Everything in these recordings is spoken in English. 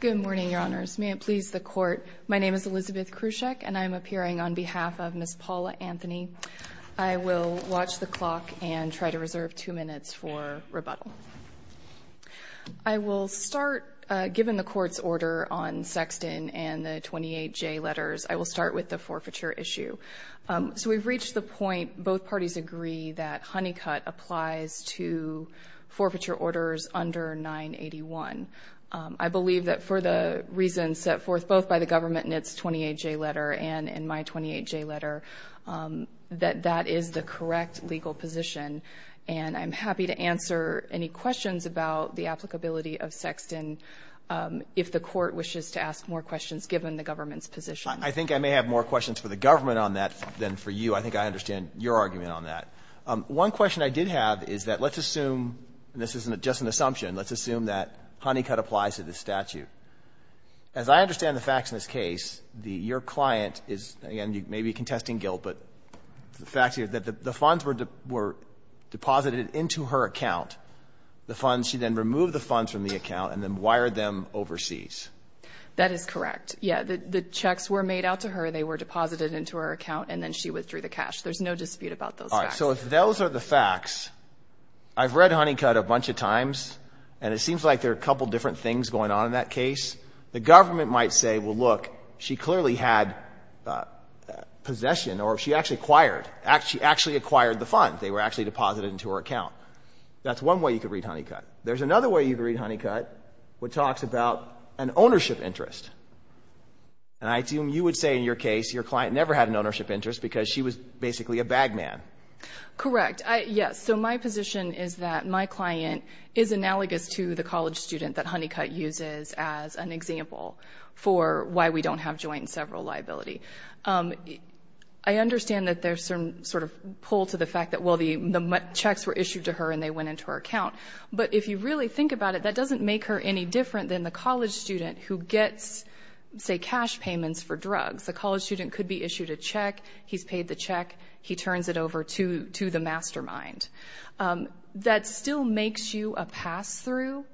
Good morning, Your Honors. May it please the Court, my name is Elizabeth Krusek and I'm appearing on behalf of Ms. Paula Anthony. I will watch the clock and try to reserve two minutes for rebuttal. I will start, given the Court's order on Sexton and the 28J letters, I will start with the forfeiture issue. So we've reached the point, both parties agree that Honeycutt applies to forfeiture orders under 981. I believe that for the reason set forth both by the government in its 28J letter and in my 28J letter, that that is the correct legal position and I'm happy to answer any questions about the applicability of Sexton if the Court wishes to ask more questions given the government's position. I think I may have more questions for the government on that than for you. I think I understand your argument on that. One question I did have is that let's assume, and this isn't just an assumption, let's assume that Honeycutt applies to this statute. As I understand the facts in this case, your client is, again, you may be contesting guilt, but the facts here that the funds were deposited into her account, the funds, she then removed the funds from the account and then wired them overseas. That is correct. Yeah, the checks were made out to her, they were deposited into her account and then she withdrew the cash. There's no dispute about those facts. All right, so if those are the facts, I've read Honeycutt a bunch of times and it seems like there are a couple of different things going on in that case. The government might say, well, look, she clearly had possession or she actually acquired, she actually acquired the funds. They were actually deposited into her account. That's one way you could read Honeycutt. There's another way you could read Honeycutt which talks about an ownership interest. And I assume you would say in your case your client never had an ownership interest because she was basically a bag man. Correct. Yes, so my position is that my client is analogous to the college student that Honeycutt uses as an example for why we don't have joint and several liability. I understand that there's some sort of pull to the fact that, well, the checks were issued to her and they went into her account. But if you really think about it, that doesn't make her any different than the college student who gets, say, cash payments for drugs. The college student could be issued a check, he's paid the check, he turns it over to the mastermind. That still makes you a pass-through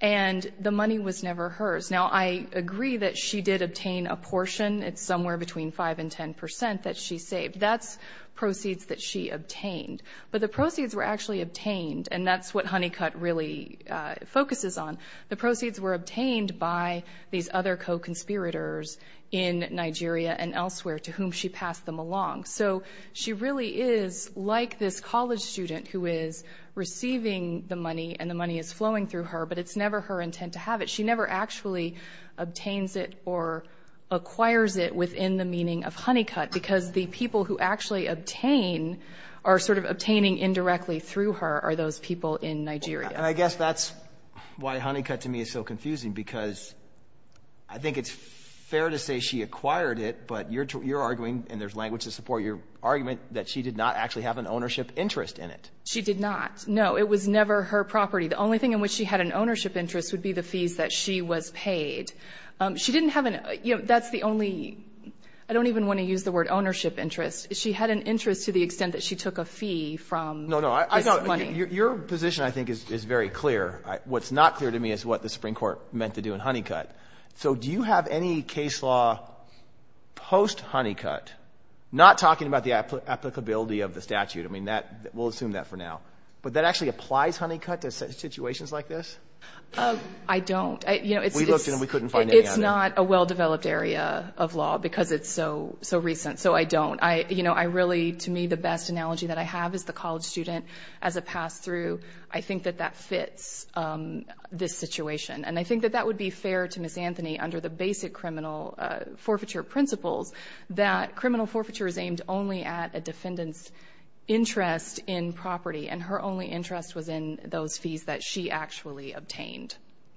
and the money was never hers. Now, I agree that she did obtain a portion, it's somewhere between five and ten percent that she saved. That's proceeds that she obtained. But the proceeds were actually obtained and that's what Honeycutt really focuses on. The proceeds were obtained by these other co-conspirators in Nigeria and elsewhere to whom she passed them along. So she really is like this college student who is receiving the money and the money is flowing through her, but it's never her intent to have it. She never actually obtains it or acquires it within the meaning of Honeycutt because the people who actually obtain are sort of obtaining indirectly through her are those people in Nigeria. I guess that's why Honeycutt to me is so confusing because I think it's fair to say she acquired it, but you're arguing, and there's language to support your argument, that she did not actually have an ownership interest in it. She did not. No, it was never her property. The only thing in which she had an ownership interest would be the fees that she was paid. She didn't have an, you know, that's the only, I don't even want to use the word ownership interest. She had an interest to the extent that she took a fee from this money. No, no, I thought, Your position I think is very clear. What's not clear to me is what the Supreme Court meant to do in Honeycutt. So do you have any case law post-Honeycutt, not talking about the applicability of the statute, I mean that, we'll assume that for now, but that actually applies Honeycutt to situations like this? I don't. It's not a well-developed area of law because it's so recent, so I don't. I, you know, I really, to me, the best analogy that I have is the college student as a pass-through. I think that that fits this situation, and I think that that would be fair to Ms. Anthony under the basic criminal forfeiture principles that criminal forfeiture is aimed only at a defendant's interest in property, and her only interest was in those fees that she actually obtained.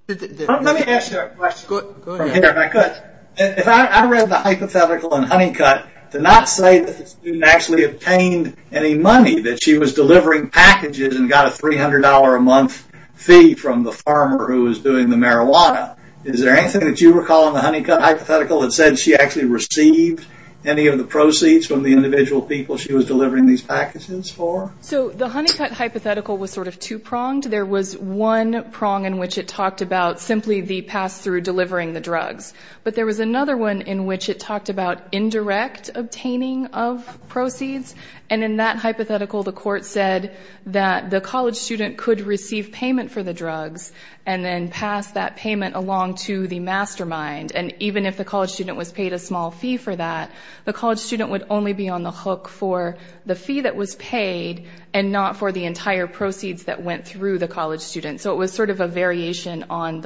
Let me ask you a question. Go ahead. If I read the hypothetical in Honeycutt to not say that the student actually obtained any money, that she was delivering packages and got a $300 a month fee from the farmer who was doing the marijuana, is there anything that you recall in the Honeycutt hypothetical that said she actually received any of the proceeds from the individual people she was delivering these packages for? So the Honeycutt hypothetical was sort of two-pronged. There was one prong in which it talked about simply the pass-through delivering the drugs, but there was another one in which it talked about indirect obtaining of proceeds, and in that hypothetical the court said that the college student could receive payment for the drugs and then pass that payment along to the mastermind, and even if the college student was paid a small fee for that, the college student would only be on the hook for the fee that was paid and not for the entire proceeds that went through the college student. So it was sort of a variation on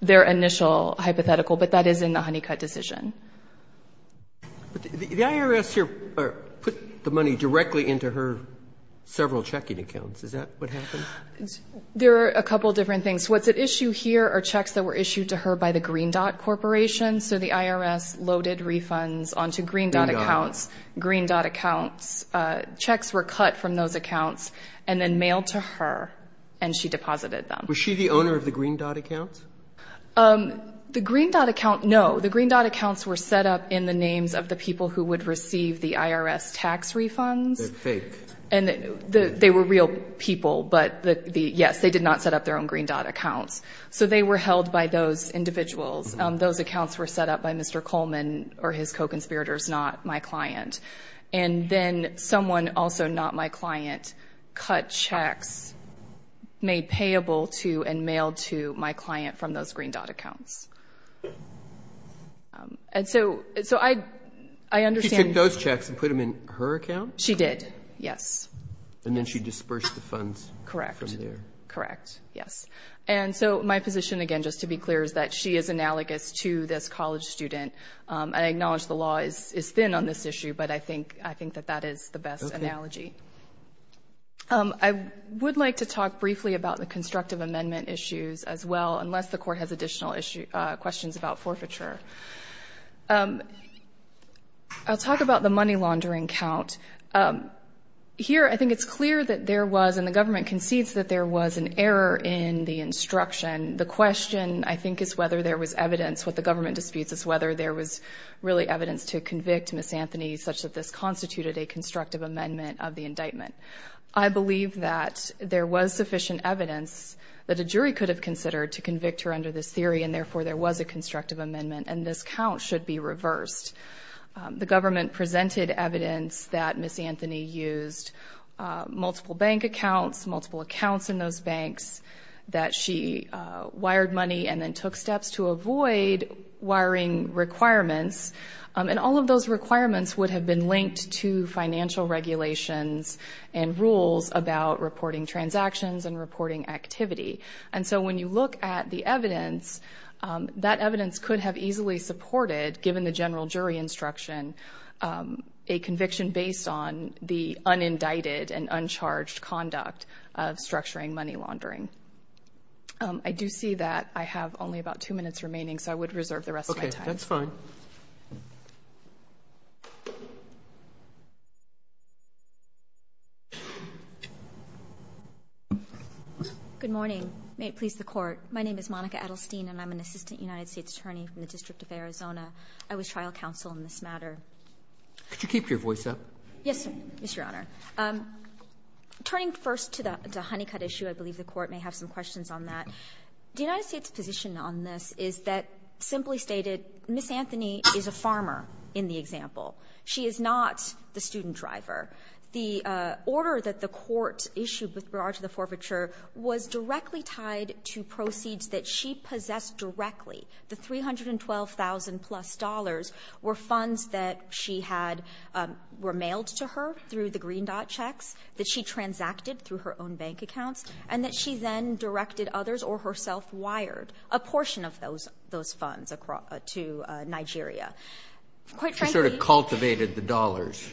their initial hypothetical, but that is in the Honeycutt decision. The IRS here put the money directly into her several checking accounts. Is that what happened? There are a couple of different things. What's at issue here are checks that were issued to her by the Green Dot Corporation. So the IRS loaded refunds onto Green Dot accounts. Green Dot accounts, checks were cut from those accounts and then mailed to her, and she deposited them. Was she the owner of the Green Dot accounts? The Green Dot account, no. The Green Dot accounts were set up in the names of the people who would receive the IRS tax refunds. They're fake. They were real people, but yes, they did not set up their own Green Dot accounts. So they were held by those individuals. Those accounts were set up by Mr. Coleman or his co-conspirators, not my client. And then someone, also not my client, cut checks, made payable to and mailed to my client from those Green Dot accounts. She took those checks and put them in her account? She did, yes. And then she dispersed the funds from there? Correct, yes. And so my position, again, just to be clear, is that she is analogous to this is thin on this issue, but I think that that is the best analogy. I would like to talk briefly about the constructive amendment issues as well, unless the Court has additional questions about forfeiture. I'll talk about the money laundering count. Here, I think it's clear that there was, and the government concedes that there was an error in the instruction. The question, I think, is whether there was evidence. What the government disputes is whether there was really evidence to convict Ms. Anthony such that this constituted a constructive amendment of the indictment. I believe that there was sufficient evidence that a jury could have considered to convict her under this theory, and therefore there was a constructive amendment, and this count should be reversed. The government presented evidence that Ms. Anthony used multiple bank accounts, multiple accounts in those banks, that she wired money and then took steps to get the evidence, and all of those requirements would have been linked to financial regulations and rules about reporting transactions and reporting activity. When you look at the evidence, that evidence could have easily supported, given the general jury instruction, a conviction based on the unindicted and uncharged conduct of structuring money laundering. I do see that I have only about two minutes remaining, so I would reserve the rest of my time. Okay. That's fine. Good morning. May it please the Court. My name is Monica Adelstein, and I'm an assistant United States attorney from the District of Arizona. I was trial counsel in this matter. Could you keep your voice up? Yes, sir. Yes, Your Honor. Turning first to the Honeycutt issue, I believe the Court may have some questions on that. The United States' position on this is that, simply stated, Ms. Anthony is a farmer in the example. She is not the student driver. The order that the Court issued with regard to the forfeiture was directly tied to proceeds that she possessed directly. The $312,000-plus were funds that she had, were mailed to her through the Green Dot checks that she transacted through her own bank accounts and that she then directed others or herself wired a portion of those funds to Nigeria. She sort of cultivated the dollars.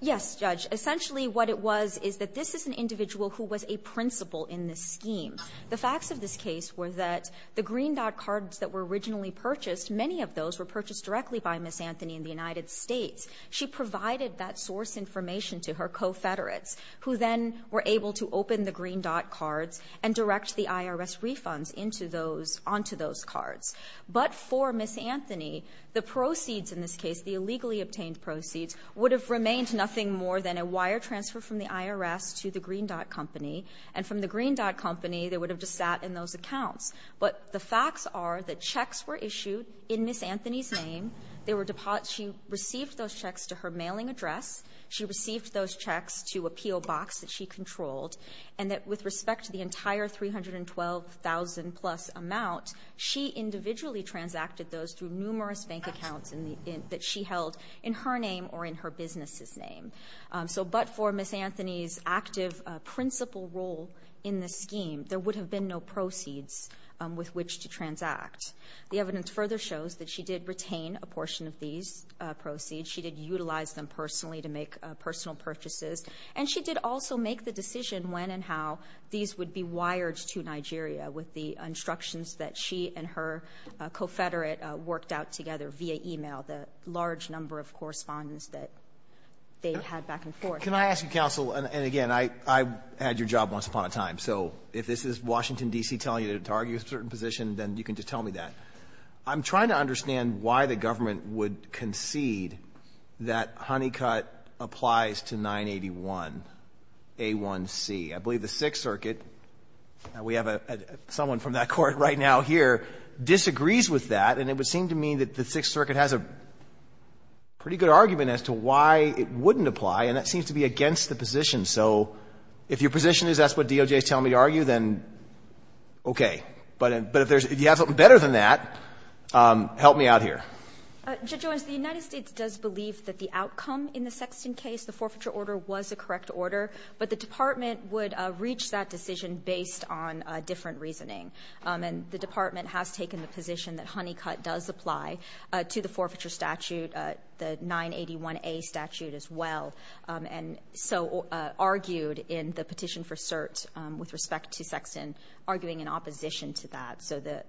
Yes, Judge. Essentially what it was is that this is an individual who was a principal in this scheme. The facts of this case were that the Green Dot cards that were originally purchased, many of those were purchased directly by Ms. Anthony in the United States. She provided that source information to her co-Federates, who then were able to open the Green Dot cards and direct the IRS refunds into those, onto those cards. But for Ms. Anthony, the proceeds in this case, the illegally obtained proceeds, would have remained nothing more than a wire transfer from the IRS to the Green Dot company, and from the Green Dot company they would have just sat in those accounts. But the facts are that checks were issued in Ms. Anthony's name. She received those checks to her mailing address. She received those checks to a P.O. box that she controlled, and that with respect to the entire $312,000-plus amount, she individually transacted those through numerous bank accounts that she held in her name or in her business's name. So but for Ms. Anthony's active principal role in this scheme, there would have been no proceeds with which to transact. The evidence further shows that she did retain a portion of these proceeds. She did utilize them personally to make personal purchases. And she did also make the decision when and how these would be wired to Nigeria with the instructions that she and her co-Federate worked out together via e-mail, the large number of correspondence that they had back and forth. Can I ask you, counsel, and again, I had your job once upon a time, so if this is Washington, D.C. telling you to argue a certain position, then you can just tell me that. I'm trying to understand why the government would concede that Honeycutt applies to 981A1C. I believe the Sixth Circuit, we have someone from that court right now here, disagrees with that, and it would seem to me that the Sixth Circuit has a pretty good argument as to why it wouldn't apply, and that seems to be against the position. So if your position is that's what DOJ is telling me to argue, then okay. But if you have something better than that, help me out here. Judge Jones, the United States does believe that the outcome in the Sexton case, the forfeiture order, was a correct order, but the Department would reach that decision based on a different reasoning. And the Department has taken the position that Honeycutt does apply to the forfeiture statute, the 981A statute as well, and so argued in the petition for cert with respect to Sexton, arguing in opposition to that. So the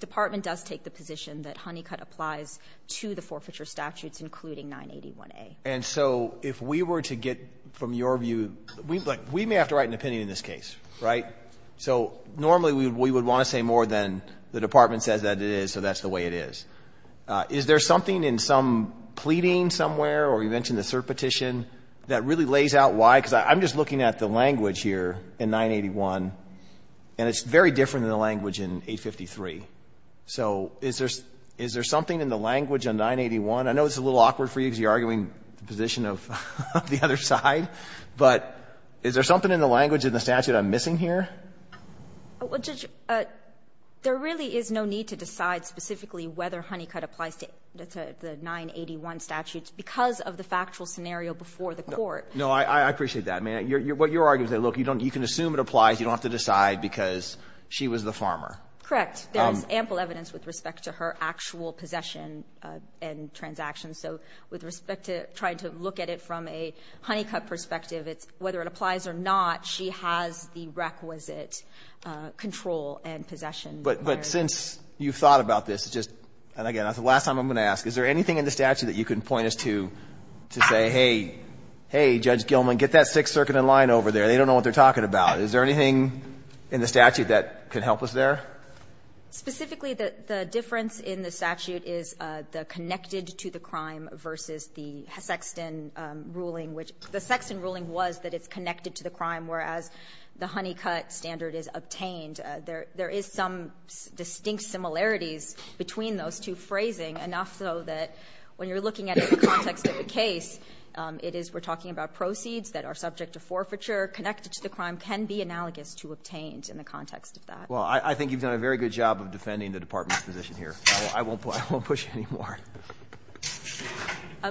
Department does take the position that Honeycutt applies to the forfeiture statutes, including 981A. And so if we were to get from your view, we may have to write an opinion in this case. So normally we would want to say more than the Department says that it is, so that's the way it is. Is there something in some pleading somewhere, or you mentioned the cert petition, that really lays out why? Because I'm just looking at the language here in 981, and it's very different than the language in 853. So is there something in the language on 981? I know it's a little awkward for you because you're arguing the position of the other side, but is there something in the language in the statute I'm missing here? Well, Judge, there really is no need to decide specifically whether Honeycutt applies to the 981 statutes because of the factual scenario before the court. No, I appreciate that. What you're arguing is that, look, you can assume it applies, you don't have to decide because she was the farmer. Correct. There is ample evidence with respect to her actual possession and transactions. So with respect to trying to look at it from a Honeycutt perspective, whether it applies or not, she has the requisite control and possession. But since you've thought about this, just, and again, that's the last time I'm going to ask, is there anything in the statute that you can point us to, to say, hey, hey, Judge Gilman, get that Sixth Circuit in line over there. They don't know what they're talking about. Is there anything in the statute that could help us there? Specifically, the difference in the statute is the connected to the crime versus the Sexton ruling, which the Sexton ruling was that it's connected to the crime, whereas the Honeycutt standard is obtained. There is some distinct similarities between those two phrasing, enough so that when you're looking at it in the context of the case, it is we're talking about proceeds that are subject to forfeiture connected to the crime can be analogous to obtained in the context of that. Well, I think you've done a very good job of defending the Department's position here. I won't push any more.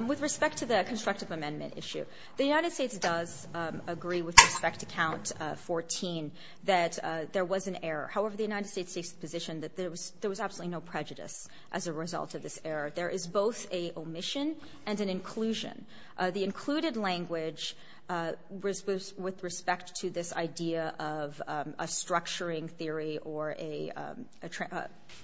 With respect to the constructive amendment issue, the United States does agree with respect to Count 14 that there was an error. However, the United States takes the position that there was absolutely no prejudice as a result of this error. There is both an omission and an inclusion. The included language was with respect to this idea of a structuring theory or a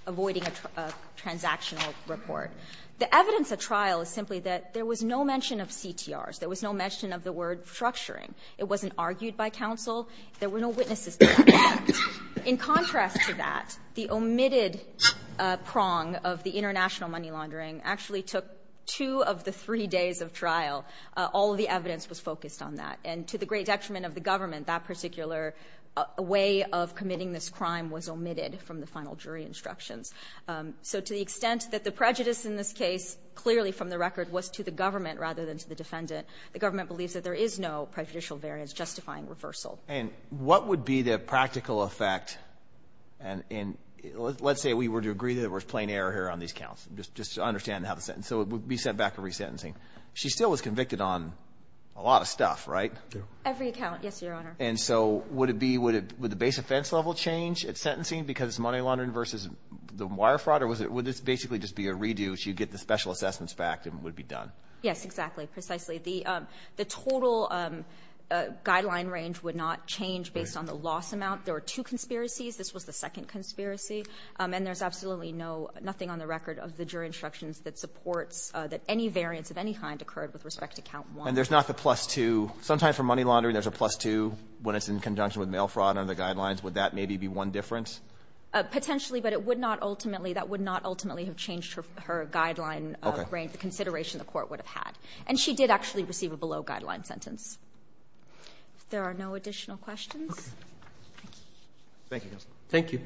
avoiding a transactional report. The evidence at trial is simply that there was no mention of CTRs. There was no mention of the word structuring. It wasn't argued by counsel. There were no witnesses to that. In contrast to that, the omitted prong of the international money laundering actually took two of the three days of trial. All of the evidence was focused on that. And to the great detriment of the government, that particular way of committing this crime was omitted from the final jury instructions. So to the extent that the prejudice in this case clearly from the record was to the government rather than to the defendant, the government believes that there is no prejudicial variance justifying reversal. And what would be the practical effect? And let's say we were to agree that there was plain error here on these counts, just to understand how the sentence, so it would be sent back to resentencing. She still was convicted on a lot of stuff, right? Every account, yes, Your Honor. And so would the base offense level change at sentencing because it's money laundering versus the wire fraud? Or would this basically just be a redo so you get the special assessments back and it would be done? Yes, exactly, precisely. The total guideline range would not change based on the loss amount. There were two conspiracies. This was the second conspiracy. And there's absolutely no, nothing on the record of the jury instructions that supports that any variance of any kind occurred with respect to count one. And there's not the plus two? Sometimes for money laundering there's a plus two when it's in conjunction with mail fraud under the guidelines. Would that maybe be one difference? Potentially, but it would not ultimately, that would not ultimately have changed her guideline range, the consideration the court would have had. And she did actually receive a below guideline sentence. If there are no additional questions. Okay. Thank you. Thank you. Thank you.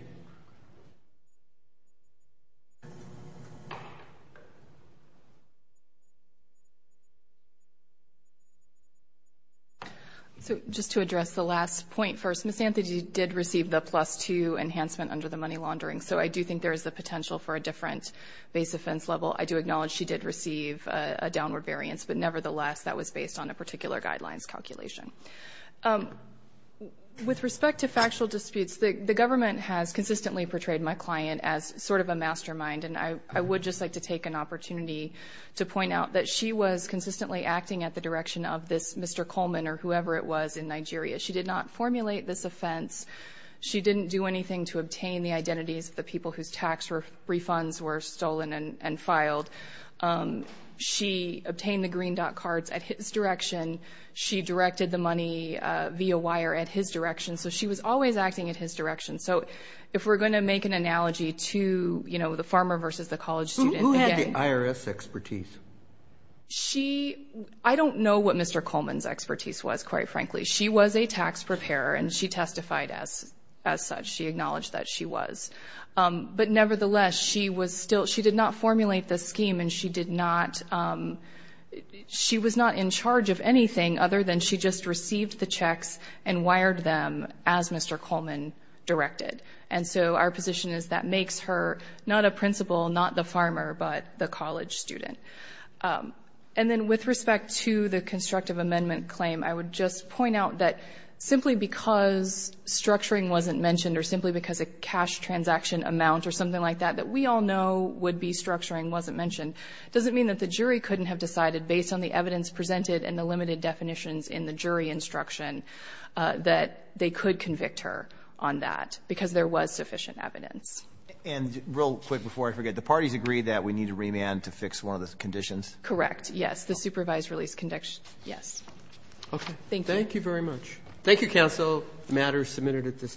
So just to address the last point first, Ms. Anthony did receive the plus two enhancement under the money laundering. So I do think there is the potential for a different base offense level. I do acknowledge she did receive a downward variance, but nevertheless that was based on a particular guidelines calculation. With respect to factual disputes, the government has consistently portrayed my client as sort of a mastermind. And I would just like to take an opportunity to point out that she was consistently acting at the direction of this Mr. Coleman or whoever it was in Nigeria. She did not formulate this offense. She didn't do anything to obtain the identities of the people whose tax refunds were stolen and filed. She obtained the green dot cards at his direction. She directed the money via wire at his direction. So she was always acting at his direction. So if we're going to make an analogy to, you know, the farmer versus the college student, the IRS expertise, she, I don't know what Mr. Coleman's expertise was quite frankly, she was a tax preparer and she testified as, as such, she acknowledged that she was. But nevertheless, she was still, she did not formulate the scheme and she did not she was not in charge of anything other than she just received the checks and wired them as Mr. Coleman directed. And so our position is that makes her not a principal, not the farmer, but the college student. And then with respect to the constructive amendment claim, I would just point out that simply because structuring wasn't mentioned or simply because a cash transaction amount or something like that, that we all know would be structuring wasn't mentioned. It doesn't mean that the jury couldn't have decided based on the evidence presented and the limited definitions in the jury instruction that they could convict her on that because there was sufficient evidence. And real quick, before I forget, the parties agreed that we need to remand to fix one of those conditions. Correct. Yes. The supervised release condition. Yes. Okay. Thank you. Thank you very much. Thank you. Counsel matters submitted at this time.